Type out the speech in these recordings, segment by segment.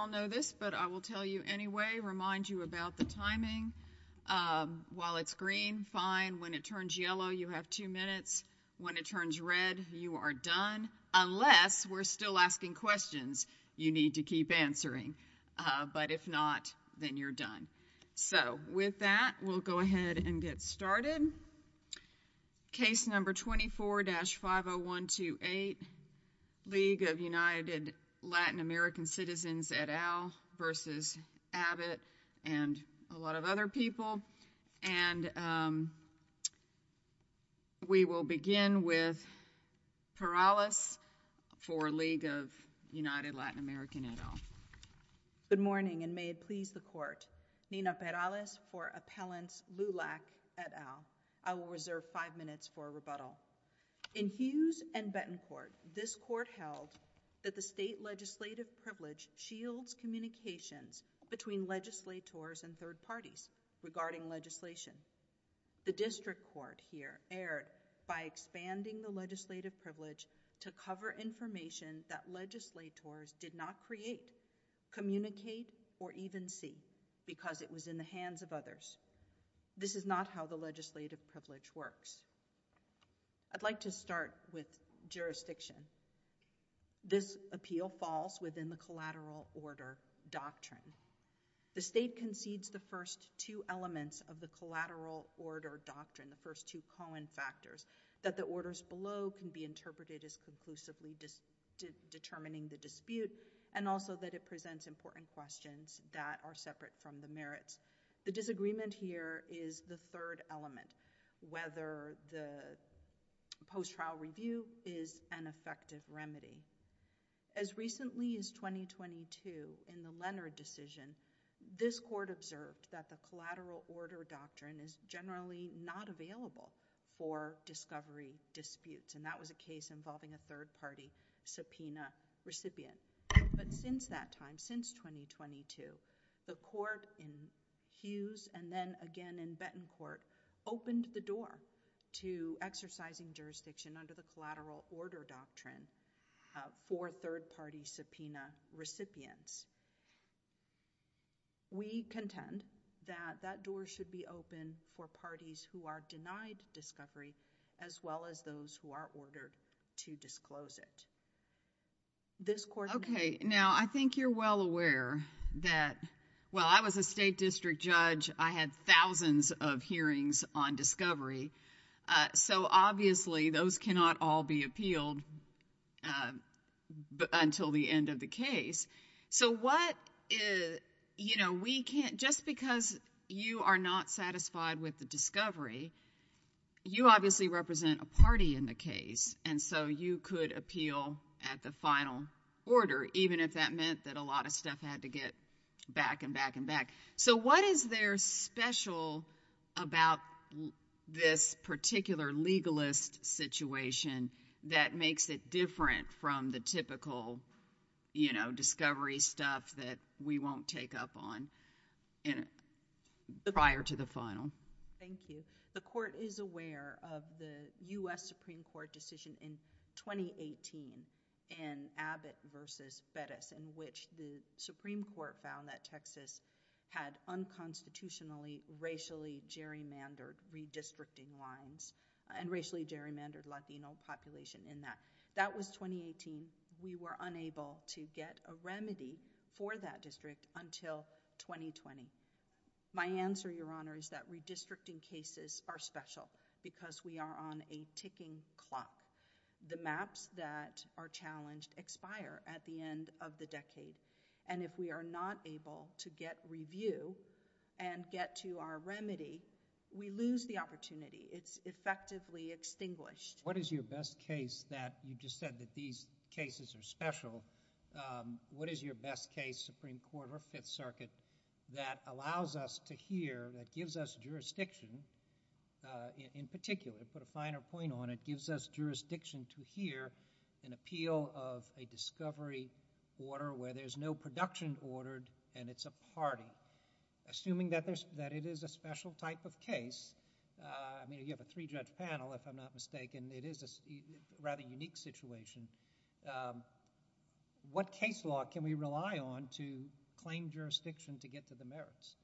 I'll know this but I will tell you anyway remind you about the timing while it's green fine when it turns yellow you have two minutes when it turns red you are done unless we're still asking questions you need to keep answering but if not then you're done so with that we'll go ahead and get started case number 24-50128 League of United Latin American Citizens at all versus Abbott and a lot of other people and we will begin with Perales for League of United Latin American at all good morning and may it please the court Nina Perales for appellants LULAC at all I will reserve five minutes for a rebuttal in Hughes and Bettencourt this court held that the state legislative privilege shields communications between legislators and third parties regarding legislation the district court here erred by expanding the legislative privilege to cover information that legislators did not create communicate or even see because it was in the hands of others this is not how the legislative privilege works I'd like to start with jurisdiction this appeal falls within the collateral order doctrine the state concedes the first two elements of the collateral order doctrine the first two colon factors that the orders below can be interpreted as conclusively determining the dispute and also that it presents important questions that are separate from the merits the disagreement here is the third element whether the post trial review is an effective remedy as recently as 2022 in the Leonard decision this court observed that the collateral order doctrine is generally not available for discovery disputes and that was a case involving a third Hughes and then again in Bettencourt opened the door to exercising jurisdiction under the collateral order doctrine for third party subpoena recipients we contend that that door should be open for parties who are denied discovery as well as those who are ordered to disclose it this court okay now I think you're well aware that well I was a state district judge I had thousands of hearings on discovery so obviously those cannot all be appealed until the end of the case so what is you know we can't just because you are not satisfied with the discovery you obviously represent a party in the case and so you could appeal at the final order even if that meant that a lot of stuff had to get back and back so what is there special about this particular legalist situation that makes it different from the typical you know discovery stuff that we won't take up on in prior to the final thank you the court is aware of the U.S. Supreme Court decision in 2018 in Abbott versus Bettis in which the Supreme Court found that Texas had unconstitutionally racially gerrymandered redistricting lines and racially gerrymandered Latino population in that that was 2018 we were unable to get a remedy for that district until 2020 my answer your honor is that redistricting cases are special because we are on a ticking clock the maps that are challenged expire at the end of the decade and if we are not able to get review and get to our remedy we lose the opportunity it's effectively extinguished what is your best case that you just said that these cases are special what is your best case Supreme Court or Fifth Circuit that allows us to hear that gives us jurisdiction in particular put a finer point on it gives us jurisdiction to hear an appeal of a discovery order where there's no production ordered and it's a party assuming that there's that it is a special type of case I mean you have a three judge panel if I'm not mistaken it is a rather unique situation what case law can we rely on to claim jurisdiction to get to the merits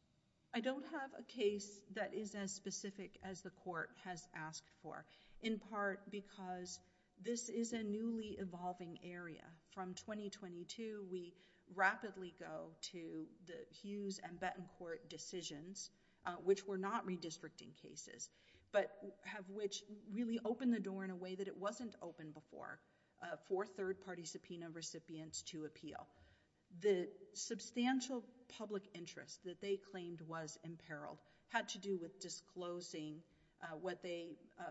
I don't have a case that is as specific as the court has asked for in part because this is a newly evolving area from 2022 we rapidly go to the Hughes and Bettencourt decisions which were not redistricting cases but have which really opened the door in a way that it wasn't open before for third-party subpoena recipients to appeal the substantial public interest that they claimed was in peril had to do with disclosing what they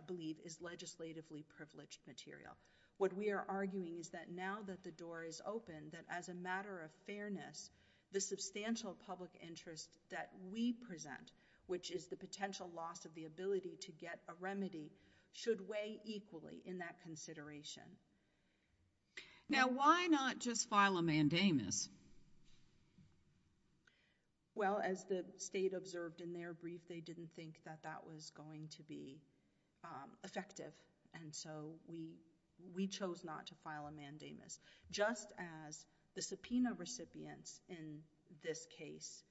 believe is legislatively privileged material what we are arguing is that now that the door is open that as a matter of fairness the substantial public interest that we present which is the potential loss of the ability to get a remedy should weigh equally in that consideration now why not just file a mandamus well as the state observed in their brief they didn't think that that was going to be effective and so we we chose not to file a mandamus just as the subpoena recipients in this case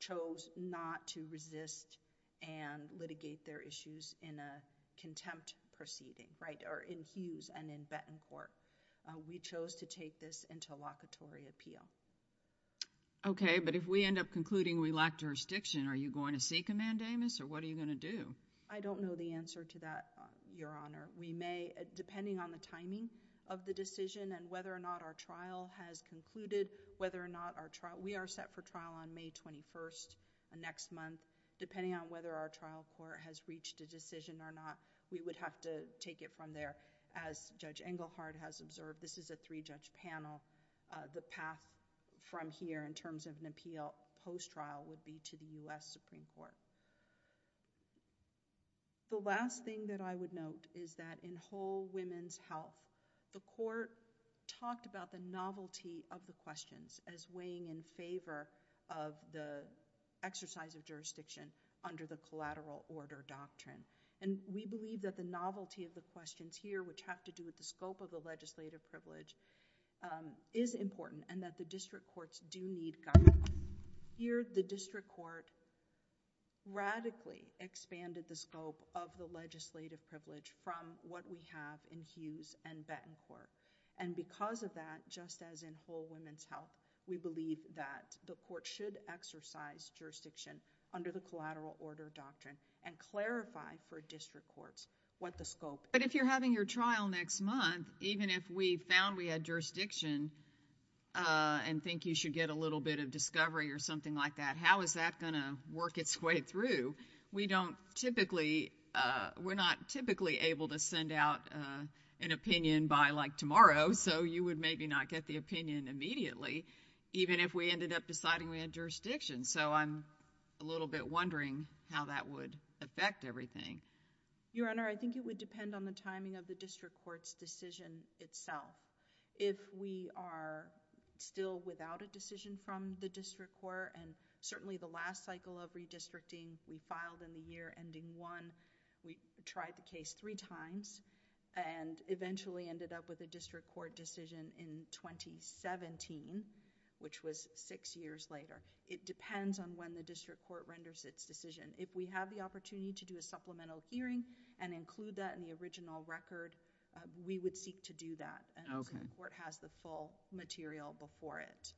chose not to resist and litigate their issues in a contempt proceeding right or in Hughes and in Bettencourt we chose to take this into a locatory appeal okay but if we end up concluding we lack jurisdiction are you going to seek a mandamus or what are you going to do I don't know the answer to that your honor we may depending on the timing of the decision and whether or not our trial has concluded whether or not our trial we are set for trial on May 21st next month depending on whether our trial court has reached a decision or not we would have to take it from there as judge Engelhardt has observed this is a three judge panel the path from here in terms of an appeal post trial would be to the US Supreme Court the last thing that I would note is that in whole women's health the court talked about the novelty of the questions as weighing in favor of the exercise of jurisdiction under the collateral order doctrine and we believe that the novelty of the questions here which have to do with the scope of the legislative privilege is important and that the district courts do need guidance here the district court radically expanded the scope of the legislative privilege from what we have in Hughes and Bettencourt and because of that just as in whole women's health we believe that the court should exercise jurisdiction under the collateral order doctrine and clarify for district courts what the scope but if you're having your trial next month even if we found we had jurisdiction and think you should get a little bit of discovery or something like that how is that gonna work its way through we don't typically we're not typically able to send out an opinion by like tomorrow so you would maybe not get the opinion immediately even if we ended up deciding we had jurisdiction so I'm a little bit wondering how that would affect everything your honor I think it would depend on the timing of the district courts decision itself if we are still without a decision from the district court and certainly the last cycle of redistricting we filed in the year ending one we tried the case three times and eventually ended up with a district court decision in 2017 which was six years later it depends on when the district court renders its decision if we have the opportunity to do a supplemental hearing and include that in the original record we would seek to do that okay where it has the full material before it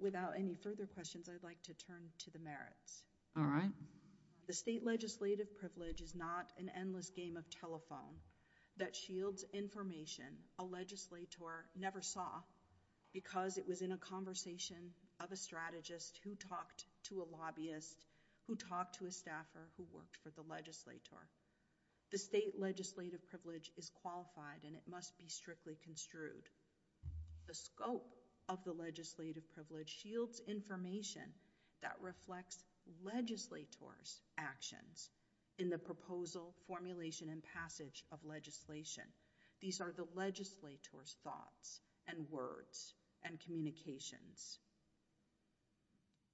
without any further questions I'd like to turn to the merits all right the state legislative privilege is not an endless game of telephone that shields information a legislator never saw because it was in a conversation of a strategist who talked to a lobbyist who talked to a staffer who worked for the legislator the state legislative privilege is qualified and it must be strictly construed the scope of the legislative privilege shields information that reflects legislators actions in the proposal formulation and passage of legislation these are the legislators thoughts and words and communications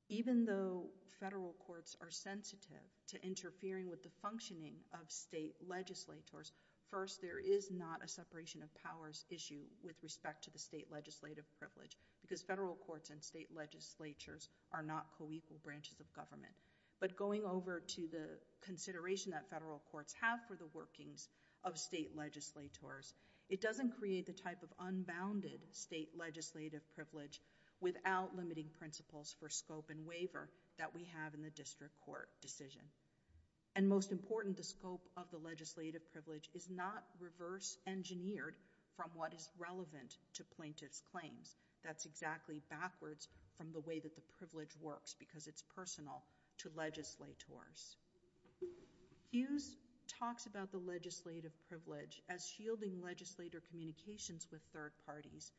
even though federal courts are sensitive to interfering with the functioning of state legislators first there is not a separation of powers issue with respect to the state legislative privilege because federal courts and state legislatures are not co-equal branches of government but going over to the consideration that federal courts have for the workings of state legislators it doesn't create the type of unbounded state legislative privilege without limiting principles for scope and waiver that we have in the district court decision and most important the scope of the legislative privilege is not reverse engineered from what is relevant to plaintiff's claims that's exactly backwards from the way that the privilege works because it's personal to legislators Hughes talks about the legislative privilege as shielding legislator communications with third parties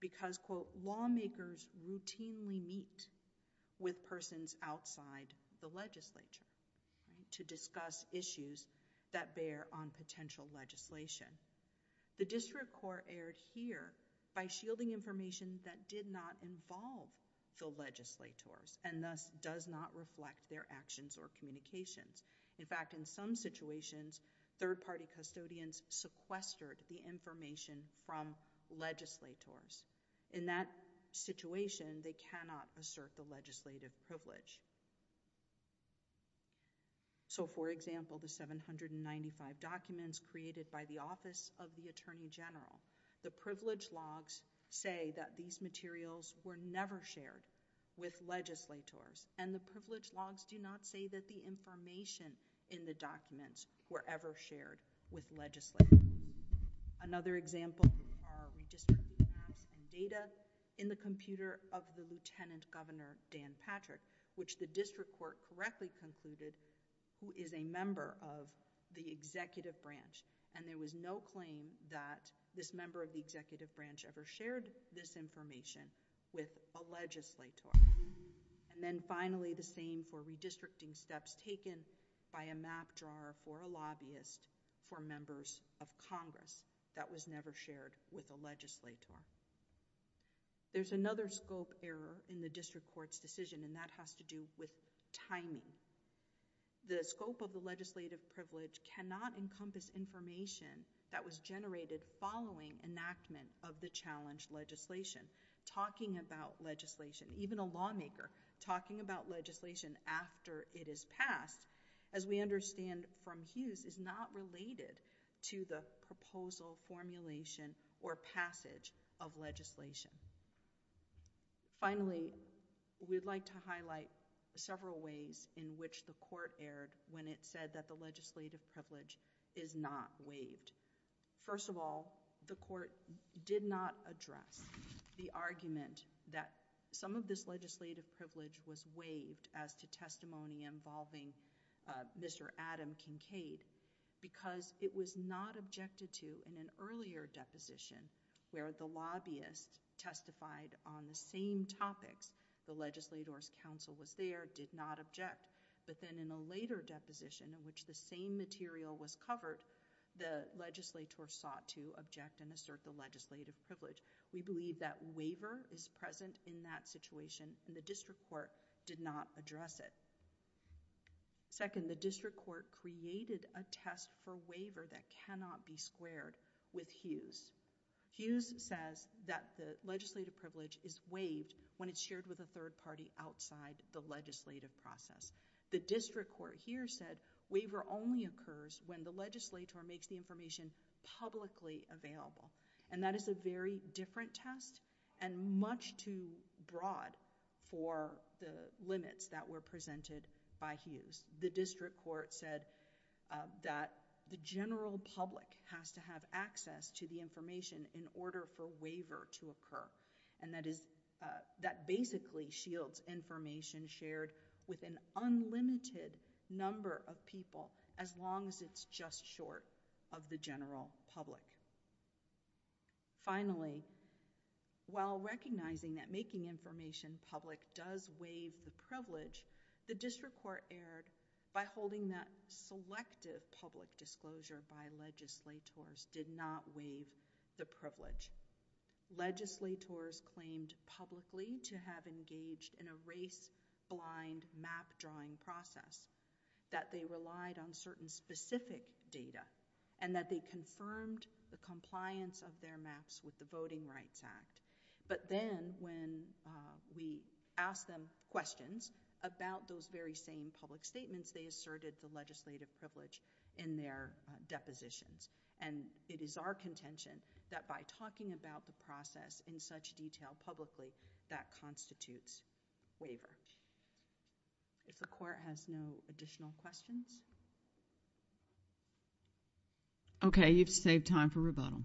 because quote lawmakers routinely meet with persons outside the legislature to discuss issues that bear on potential legislation the district court erred here by shielding information that did not involve the legislators and thus does not reflect their actions or communications in fact in some situations third-party custodians sequestered the information from legislators in that situation they cannot assert the legislative privilege so for example the 795 documents created by the Office of the Attorney General the privilege logs say that these materials were never shared with legislators and the privilege logs do not say that the information in the documents were ever shared with legislators another example data in the computer of the lieutenant governor Dan Patrick which the district court correctly concluded who is a member of the executive branch and there was no claim that this member of the executive branch ever shared this information with a legislator and then finally the same for redistricting steps taken by a map drawer or a lobbyist for members of Congress that was never shared with a legislator there's another scope error in the district court's decision and that has to do with timing the scope of the legislative privilege cannot encompass information that was generated following enactment of the challenge legislation talking about legislation even a lawmaker talking about legislation after it is passed as we understand from Hughes is not related to the proposal formulation or passage of legislation finally we'd like to highlight several ways in which the court erred when it said that the legislative privilege is not waived first of all the court did not address the argument that some of this legislative privilege was waived as to testimony involving mr. Adam Kincaid because it was not objected to in an earlier deposition where the lobbyist testified on the same topics the legislators counsel was there did not object but then in a later deposition in which the same material was covered the legislator sought to object and assert the legislative privilege we believe that waiver is present in that situation and the district court did not address it second the district court created a test for waiver that cannot be squared with Hughes Hughes says that the legislative privilege is waived when it's shared with a third party outside the legislative process the district court here said waiver only occurs when the legislator makes the information publicly available and that is a very different test and much too broad for the limits that were presented by Hughes the district court said that the general public has to have access to the information in order for waiver to occur and that is that basically shields information shared with an unlimited number of people as long as it's just short of the general public finally while recognizing that making information public does waive the privilege the district court aired by holding that selective public disclosure by legislators did not waive the privilege legislators publicly to have engaged in a race blind map drawing process that they relied on certain specific data and that they confirmed the compliance of their maps with the Voting Rights Act but then when we asked them questions about those very same public statements they asserted the legislative privilege in their depositions and it is our contention that by talking about the process in such detail publicly that constitutes waiver if the court has no additional questions okay you've saved time for rebuttal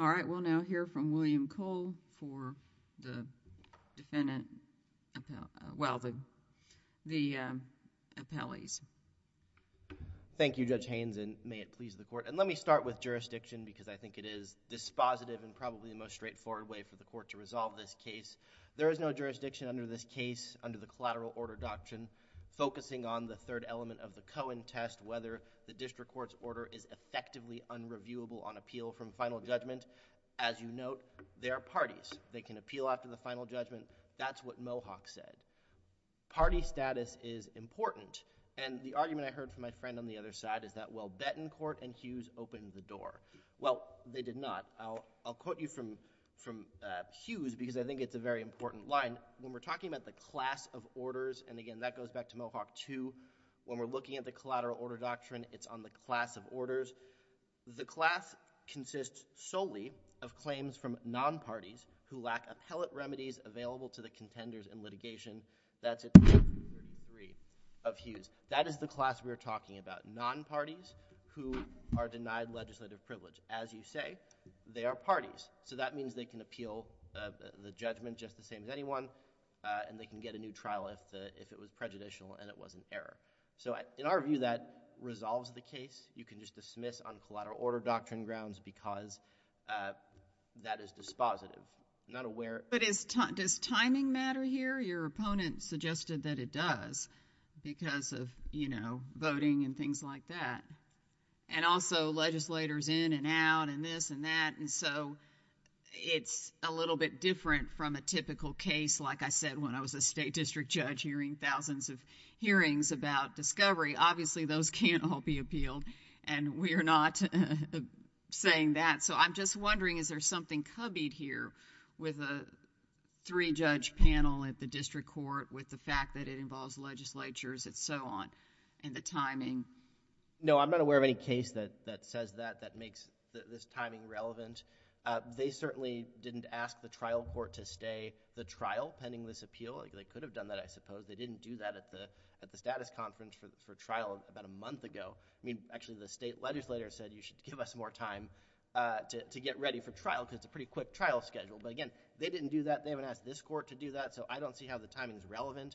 all right we'll now hear from William Cole for the defendant well the the appellees thank you judge Haynes and may it please the court and let me start with jurisdiction because I think it is dispositive and probably the most straightforward way for the court to resolve this case there is no jurisdiction under this case under the collateral order doctrine focusing on the third element of the Cohen test whether the district court's order is effectively unreviewable on appeal from final judgment as you note there are parties they can appeal after the final judgment that's what Mohawk said party status is important and the argument I heard from my friend on the other side is that well Bettencourt and Hughes opened the door well they did not I'll I'll quote you from from Hughes because I think it's a very important line when we're talking about the class of orders and again that goes back to Mohawk to when we're looking at the collateral order doctrine it's on the class of orders the class consists solely of claims from non parties who lack appellate remedies available to the contenders in litigation that's it of Hughes that is the class we're talking about non parties who are denied legislative privilege as you say they are parties so that means they can appeal the judgment just the same as anyone and they can get a new trial if the if it was prejudicial and it was an error so in our view that resolves the case you can just dismiss on collateral order doctrine grounds because that is dispositive not aware but it's time does timing matter here your opponent suggested that it does because of you know voting and things like that and also legislators in and out and this and that and so it's a little bit different from a typical case like I said when I was a state district judge hearing thousands of hearings about discovery obviously those can't all be appealed and we are not saying that so I'm just wondering is there something cubbied here with a three judge panel at the district court with the fact that it involves legislatures it's so on and the timing no I'm not aware of any case that that says that that makes this timing relevant they certainly didn't ask the trial court to stay the trial pending this appeal they could have done that I suppose they didn't do that at the at the status conference for trial about a month ago I mean actually the state legislator said you should give us more time to get ready for trial because it's a pretty quick trial schedule but again they didn't do that they haven't asked this court to do that so I don't see how the timing is relevant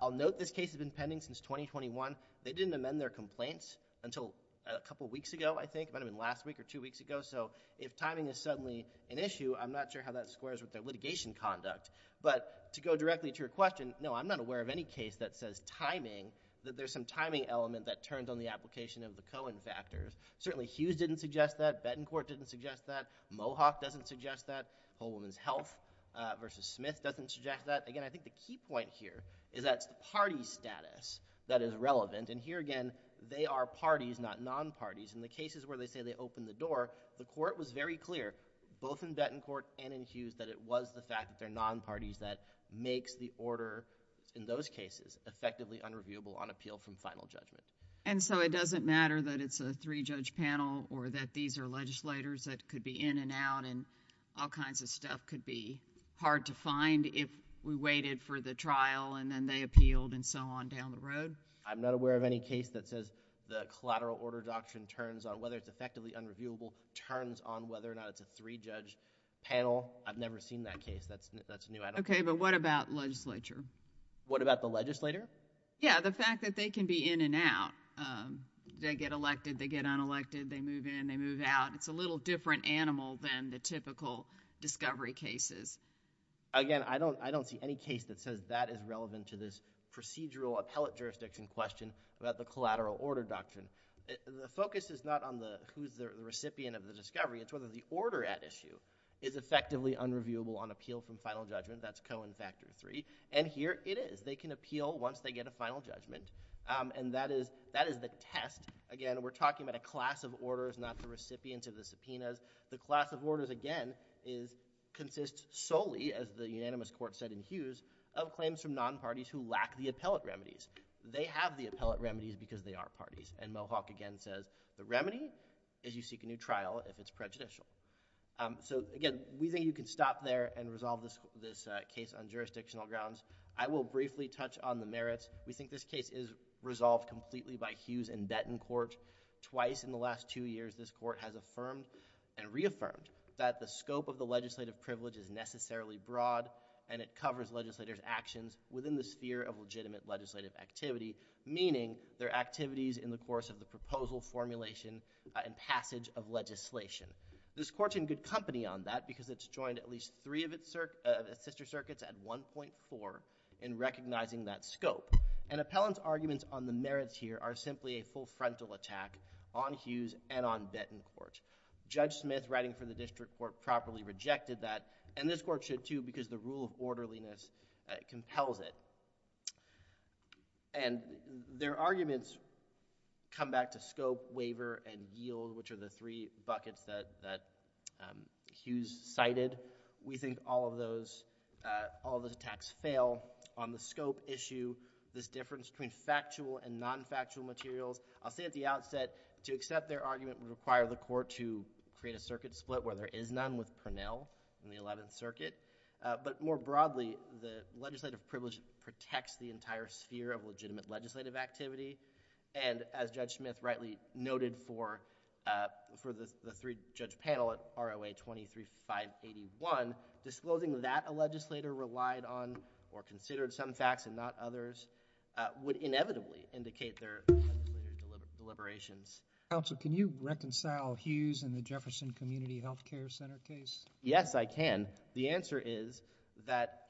I'll note this case has been pending since 2021 they didn't amend their complaints until a couple weeks ago I think I mean last week or two weeks ago so if timing is suddenly an issue I'm not sure how that squares with their litigation conduct but to go directly to your question no I'm not aware of any case that says timing that there's some timing element that turns on the application of the Cohen factors certainly Hughes didn't suggest that Bettencourt didn't suggest that Mohawk doesn't suggest that whole woman's health versus Smith doesn't suggest that again I think the key point here is that's the party status that is relevant and here again they are parties not non-parties in the cases where they say they open the door the court was very clear both in Bettencourt and in Hughes that it was the fact that they're non-parties that makes the order in those cases effectively unreviewable on appeal from final judgment and so it doesn't matter that it's a three judge panel or that these are legislators that could be in and out and all kinds of stuff could be hard to find if we waited for the trial and then they appealed and so on down the road I'm not aware of any case that says the collateral order doctrine turns on whether it's effectively unreviewable turns on whether or not it's a three judge panel I've never seen that case that's that's new okay but what about legislature what about the legislator yeah the fact that they can be in and out they get elected they get elected they move in they move out it's a little different animal than the typical discovery cases again I don't I don't see any case that says that is relevant to this procedural appellate jurisdiction question about the collateral order doctrine the focus is not on the who's the recipient of the discovery it's whether the order at issue is effectively unreviewable on appeal from final judgment that's Cohen factor 3 and here it is they can appeal once they get a final judgment and that is that is the test again we're talking about a class of orders not the recipients of the subpoenas the class of orders again is consists solely as the unanimous court said in Hughes of claims from non parties who lack the appellate remedies they have the appellate remedies because they are parties and Mohawk again says the remedy is you seek a new trial if it's prejudicial so again we think you can stop there and resolve this this case on jurisdictional grounds I will briefly touch on the merits we think this case is resolved completely by Hughes and Bettencourt twice in the last two years this court has affirmed and reaffirmed that the scope of the legislative privilege is necessarily broad and it covers legislators actions within the sphere of legitimate legislative activity meaning their activities in the course of the proposal formulation and passage of legislation this court in good company on that because it's joined at least three of its sister circuits at 1.4 in recognizing that scope and appellant's arguments on the merits here are simply a full frontal attack on Hughes and on Bettencourt judge Smith writing for the district court properly rejected that and this court should too because the rule of orderliness compels it and their arguments come back to scope waiver and yield which are the three buckets that that Hughes cited we think all of those all those attacks fail on the scope issue this difference between factual and non-factual materials I'll say at the outset to accept their argument would require the court to create a circuit split where there is none with Pernell in the 11th Circuit but more broadly the legislative privilege protects the entire sphere of legitimate legislative activity and as judge Smith rightly noted for for the three judge panel at ROA 23581 disclosing that a legislator relied on or considered some facts and not others would inevitably indicate their deliberations also can you reconcile Hughes and the Jefferson Community Health Care Center case yes I can the answer is that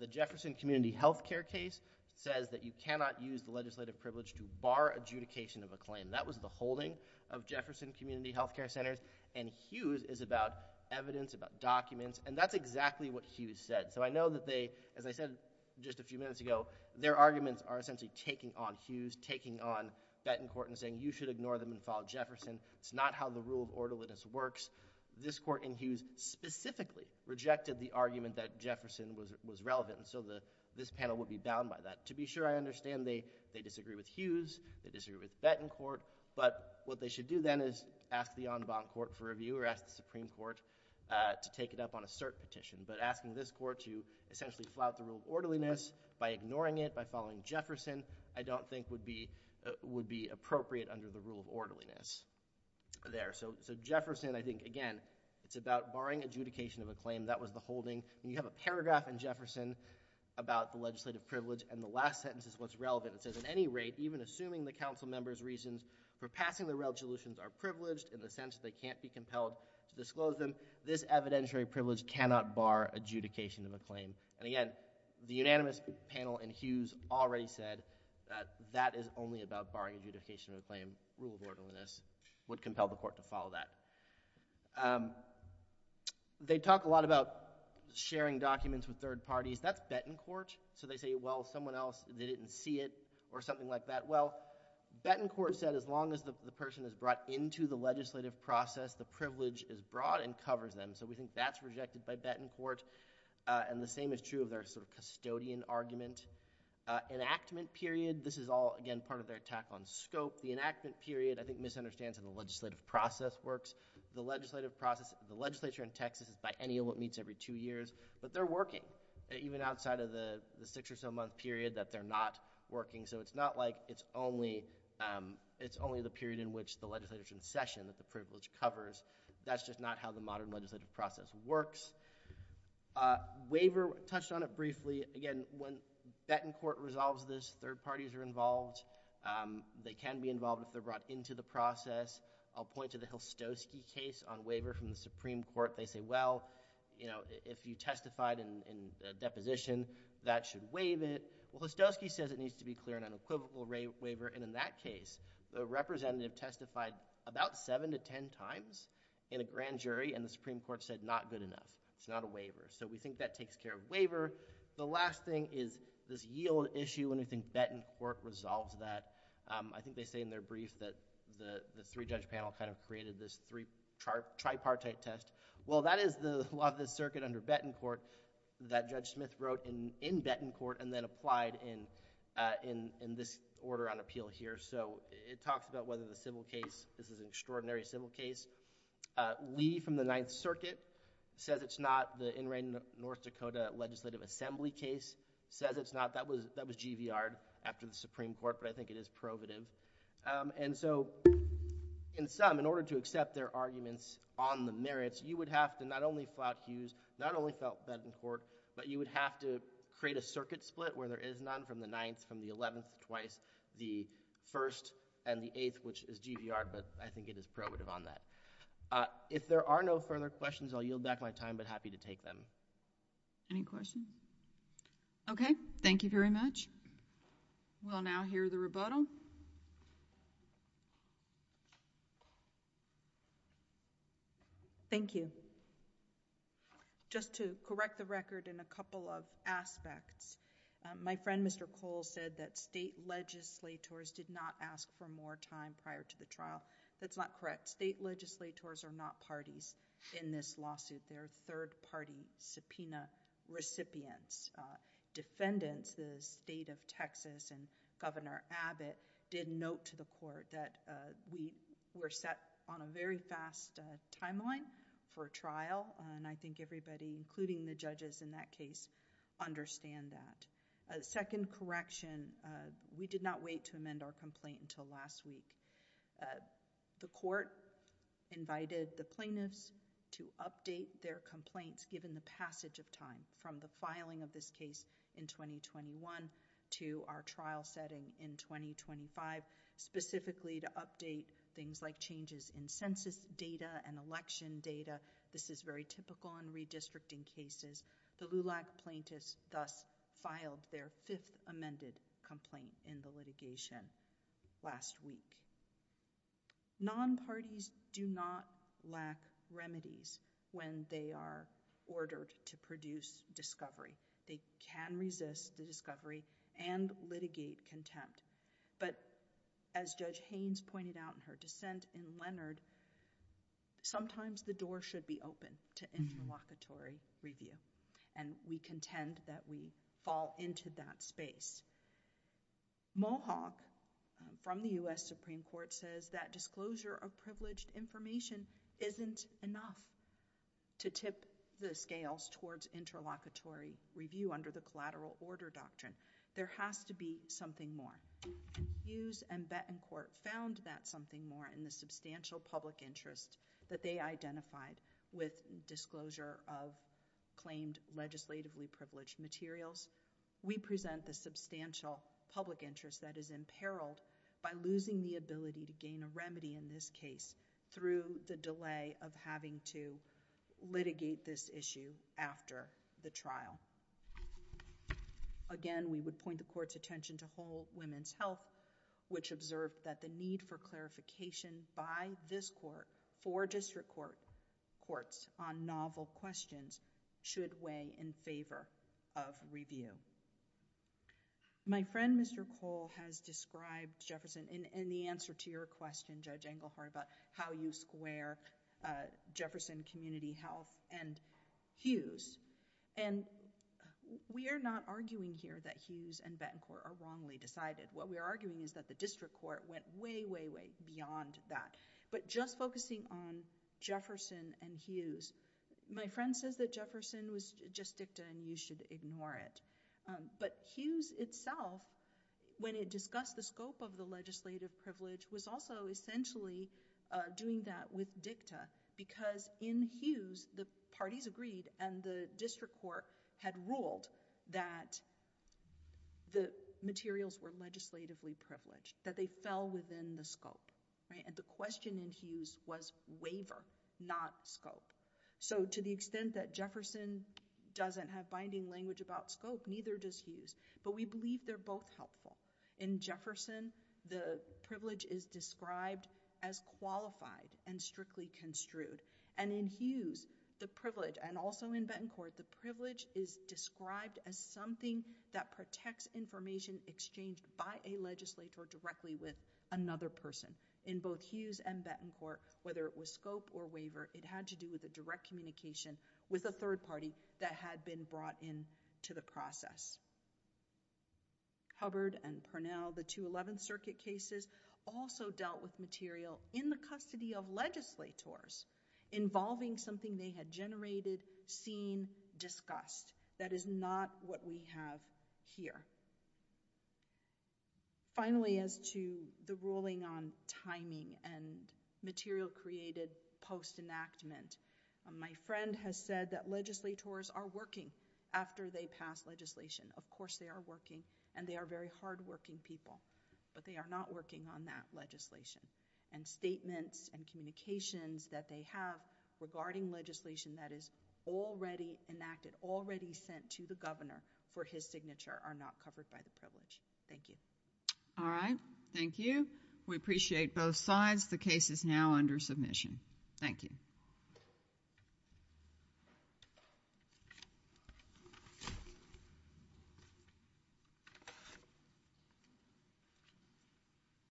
the Jefferson Community Health Care case says that you use the legislative privilege to bar adjudication of a claim that was the holding of Jefferson Community Health Care Centers and Hughes is about evidence about documents and that's exactly what Hughes said so I know that they as I said just a few minutes ago their arguments are essentially taking on Hughes taking on Bettencourt and saying you should ignore them and follow Jefferson it's not how the rule of orderliness works this court in Hughes specifically rejected the argument that Jefferson was it was relevant and so the this panel would be bound by that to be sure I understand they they disagree with Hughes they disagree with Bettencourt but what they should do then is ask the en banc court for review or ask the Supreme Court to take it up on a cert petition but asking this court to essentially flout the rule orderliness by ignoring it by following Jefferson I don't think would be would be appropriate under the rule of orderliness there so so Jefferson I think again it's about barring adjudication of a claim that was the holding you have a paragraph in Jefferson about the legislative privilege and the last sentence is what's relevant it says at any rate even assuming the council members reasons for passing the resolutions are privileged in the sense they can't be compelled to disclose them this evidentiary privilege cannot bar adjudication of a claim and again the unanimous panel and Hughes already said that that is only about barring adjudication of a claim rule of orderliness would compel the court to follow that they talk a lot about sharing documents with third parties that's Bettencourt so they say well someone else they didn't see it or something like that well Bettencourt said as long as the person is brought into the legislative process the privilege is brought and covers them so we think that's rejected by Bettencourt and the same is true of their sort of custodian argument enactment period this is all again part of their attack on scope the enactment period I think misunderstands in the legislative process works the legislative process the legislature in Texas is by any of what meets every two years but they're working even outside of the six or so month period that they're not working so it's not like it's only it's only the period in which the legislators in session that the privilege covers that's just not how the modern legislative process works waiver touched on it briefly again when Bettencourt resolves this third parties are involved they can be involved if they're brought into the process I'll point to the Hilskoski case on waiver from the Supreme Court they say well you know if you testified in a deposition that should waive it well Hilskoski says it needs to be clear an unequivocal waiver and in that case the representative testified about seven to ten times in a grand jury and the Supreme Court said not good enough it's not a waiver so we think that takes care of waiver the last thing is this yield issue and I think Bettencourt resolves that I think they say in their brief that the three judge panel kind of created this three tripartite test well that is the law of the circuit under Bettencourt that Judge Smith wrote in in Bettencourt and then applied in in in this order on appeal here so it talks about whether the civil case this is an extraordinary civil case Lee from the Ninth Circuit says it's not the in rain the North Dakota Legislative Assembly case says it's not that was that was GVR after the Supreme Court but I think it is probative and so in some in order to accept their arguments on the merits you would have to not only flout Hughes not only felt that in court but you would have to create a circuit split where there is none from the ninth from the 11th twice the first and the eighth which is GVR but I think it is probative on that if there are no further questions I'll yield back my time but happy to take them any question okay thank you very much we'll now hear the rebuttal thank you just to correct the record in a couple of aspects my friend mr. Cole said that state legislators did not ask for more time prior to the trial that's not correct state legislators are not parties in this lawsuit their third party subpoena recipients defendants the state of Texas and Governor Abbott did note to the court that we were set on a very fast timeline for trial and I think everybody including the judges in that case understand that a second correction we did not wait to amend our complaint until last week the court invited the plaintiffs to update their complaints given the passage of time from the filing of this case in 2021 to our trial setting in 2025 specifically to update things like changes in census data and data this is very typical on redistricting cases the LULAC plaintiffs thus filed their fifth amended complaint in the litigation last week non-parties do not lack remedies when they are ordered to produce discovery they can resist the discovery and litigate contempt but as judge the door should be open to interlocutory review and we contend that we fall into that space Mohawk from the US Supreme Court says that disclosure of privileged information isn't enough to tip the scales towards interlocutory review under the collateral order doctrine there has to be something more and Hughes and Bettencourt found that something more in the substantial public interest that they identified with disclosure of claimed legislatively privileged materials we present the substantial public interest that is imperiled by losing the ability to gain a remedy in this case through the delay of having to litigate this issue after the trial again we would point the court's attention to whole women's health which observed that the need for clarification by this court for district court courts on novel questions should weigh in favor of review my friend mr. Cole has described Jefferson in the answer to your question judge Engelhardt about how you square Jefferson community health and Hughes and we are not arguing here that Hughes and Bettencourt are wrongly decided what we are arguing is that the district court went way way way beyond that but just focusing on Jefferson and Hughes my friend says that Jefferson was just dicta and you should ignore it but Hughes itself when it discussed the scope of the legislative privilege was also essentially doing that with dicta because in Hughes the parties agreed and the district court had ruled that the materials were legislatively privileged that they fell within the scope and the question in Hughes was waiver not scope so to the extent that Jefferson doesn't have binding language about scope neither does Hughes but we believe they're both helpful in Jefferson the privilege is described as qualified and strictly construed and in Hughes the privilege and also in Bettencourt the privilege is described as something that protects information exchanged by a legislator directly with another person in both Hughes and Bettencourt whether it was scope or waiver it had to do with a direct communication with a third party that had been brought in to the process Hubbard and Parnell the 211th circuit cases also dealt with material in the custody of legislators involving something they had generated seen discussed that is not what we have here finally as to the ruling on timing and material created post enactment my friend has said that legislators are working after they pass legislation of course they are working and they are very hard-working people but they are not working on that legislation and statements and communications that they have regarding legislation that is already enacted already sent to the governor for his signature are not covered by the privilege thank you all right thank you we appreciate both sides the case is now under submission thank you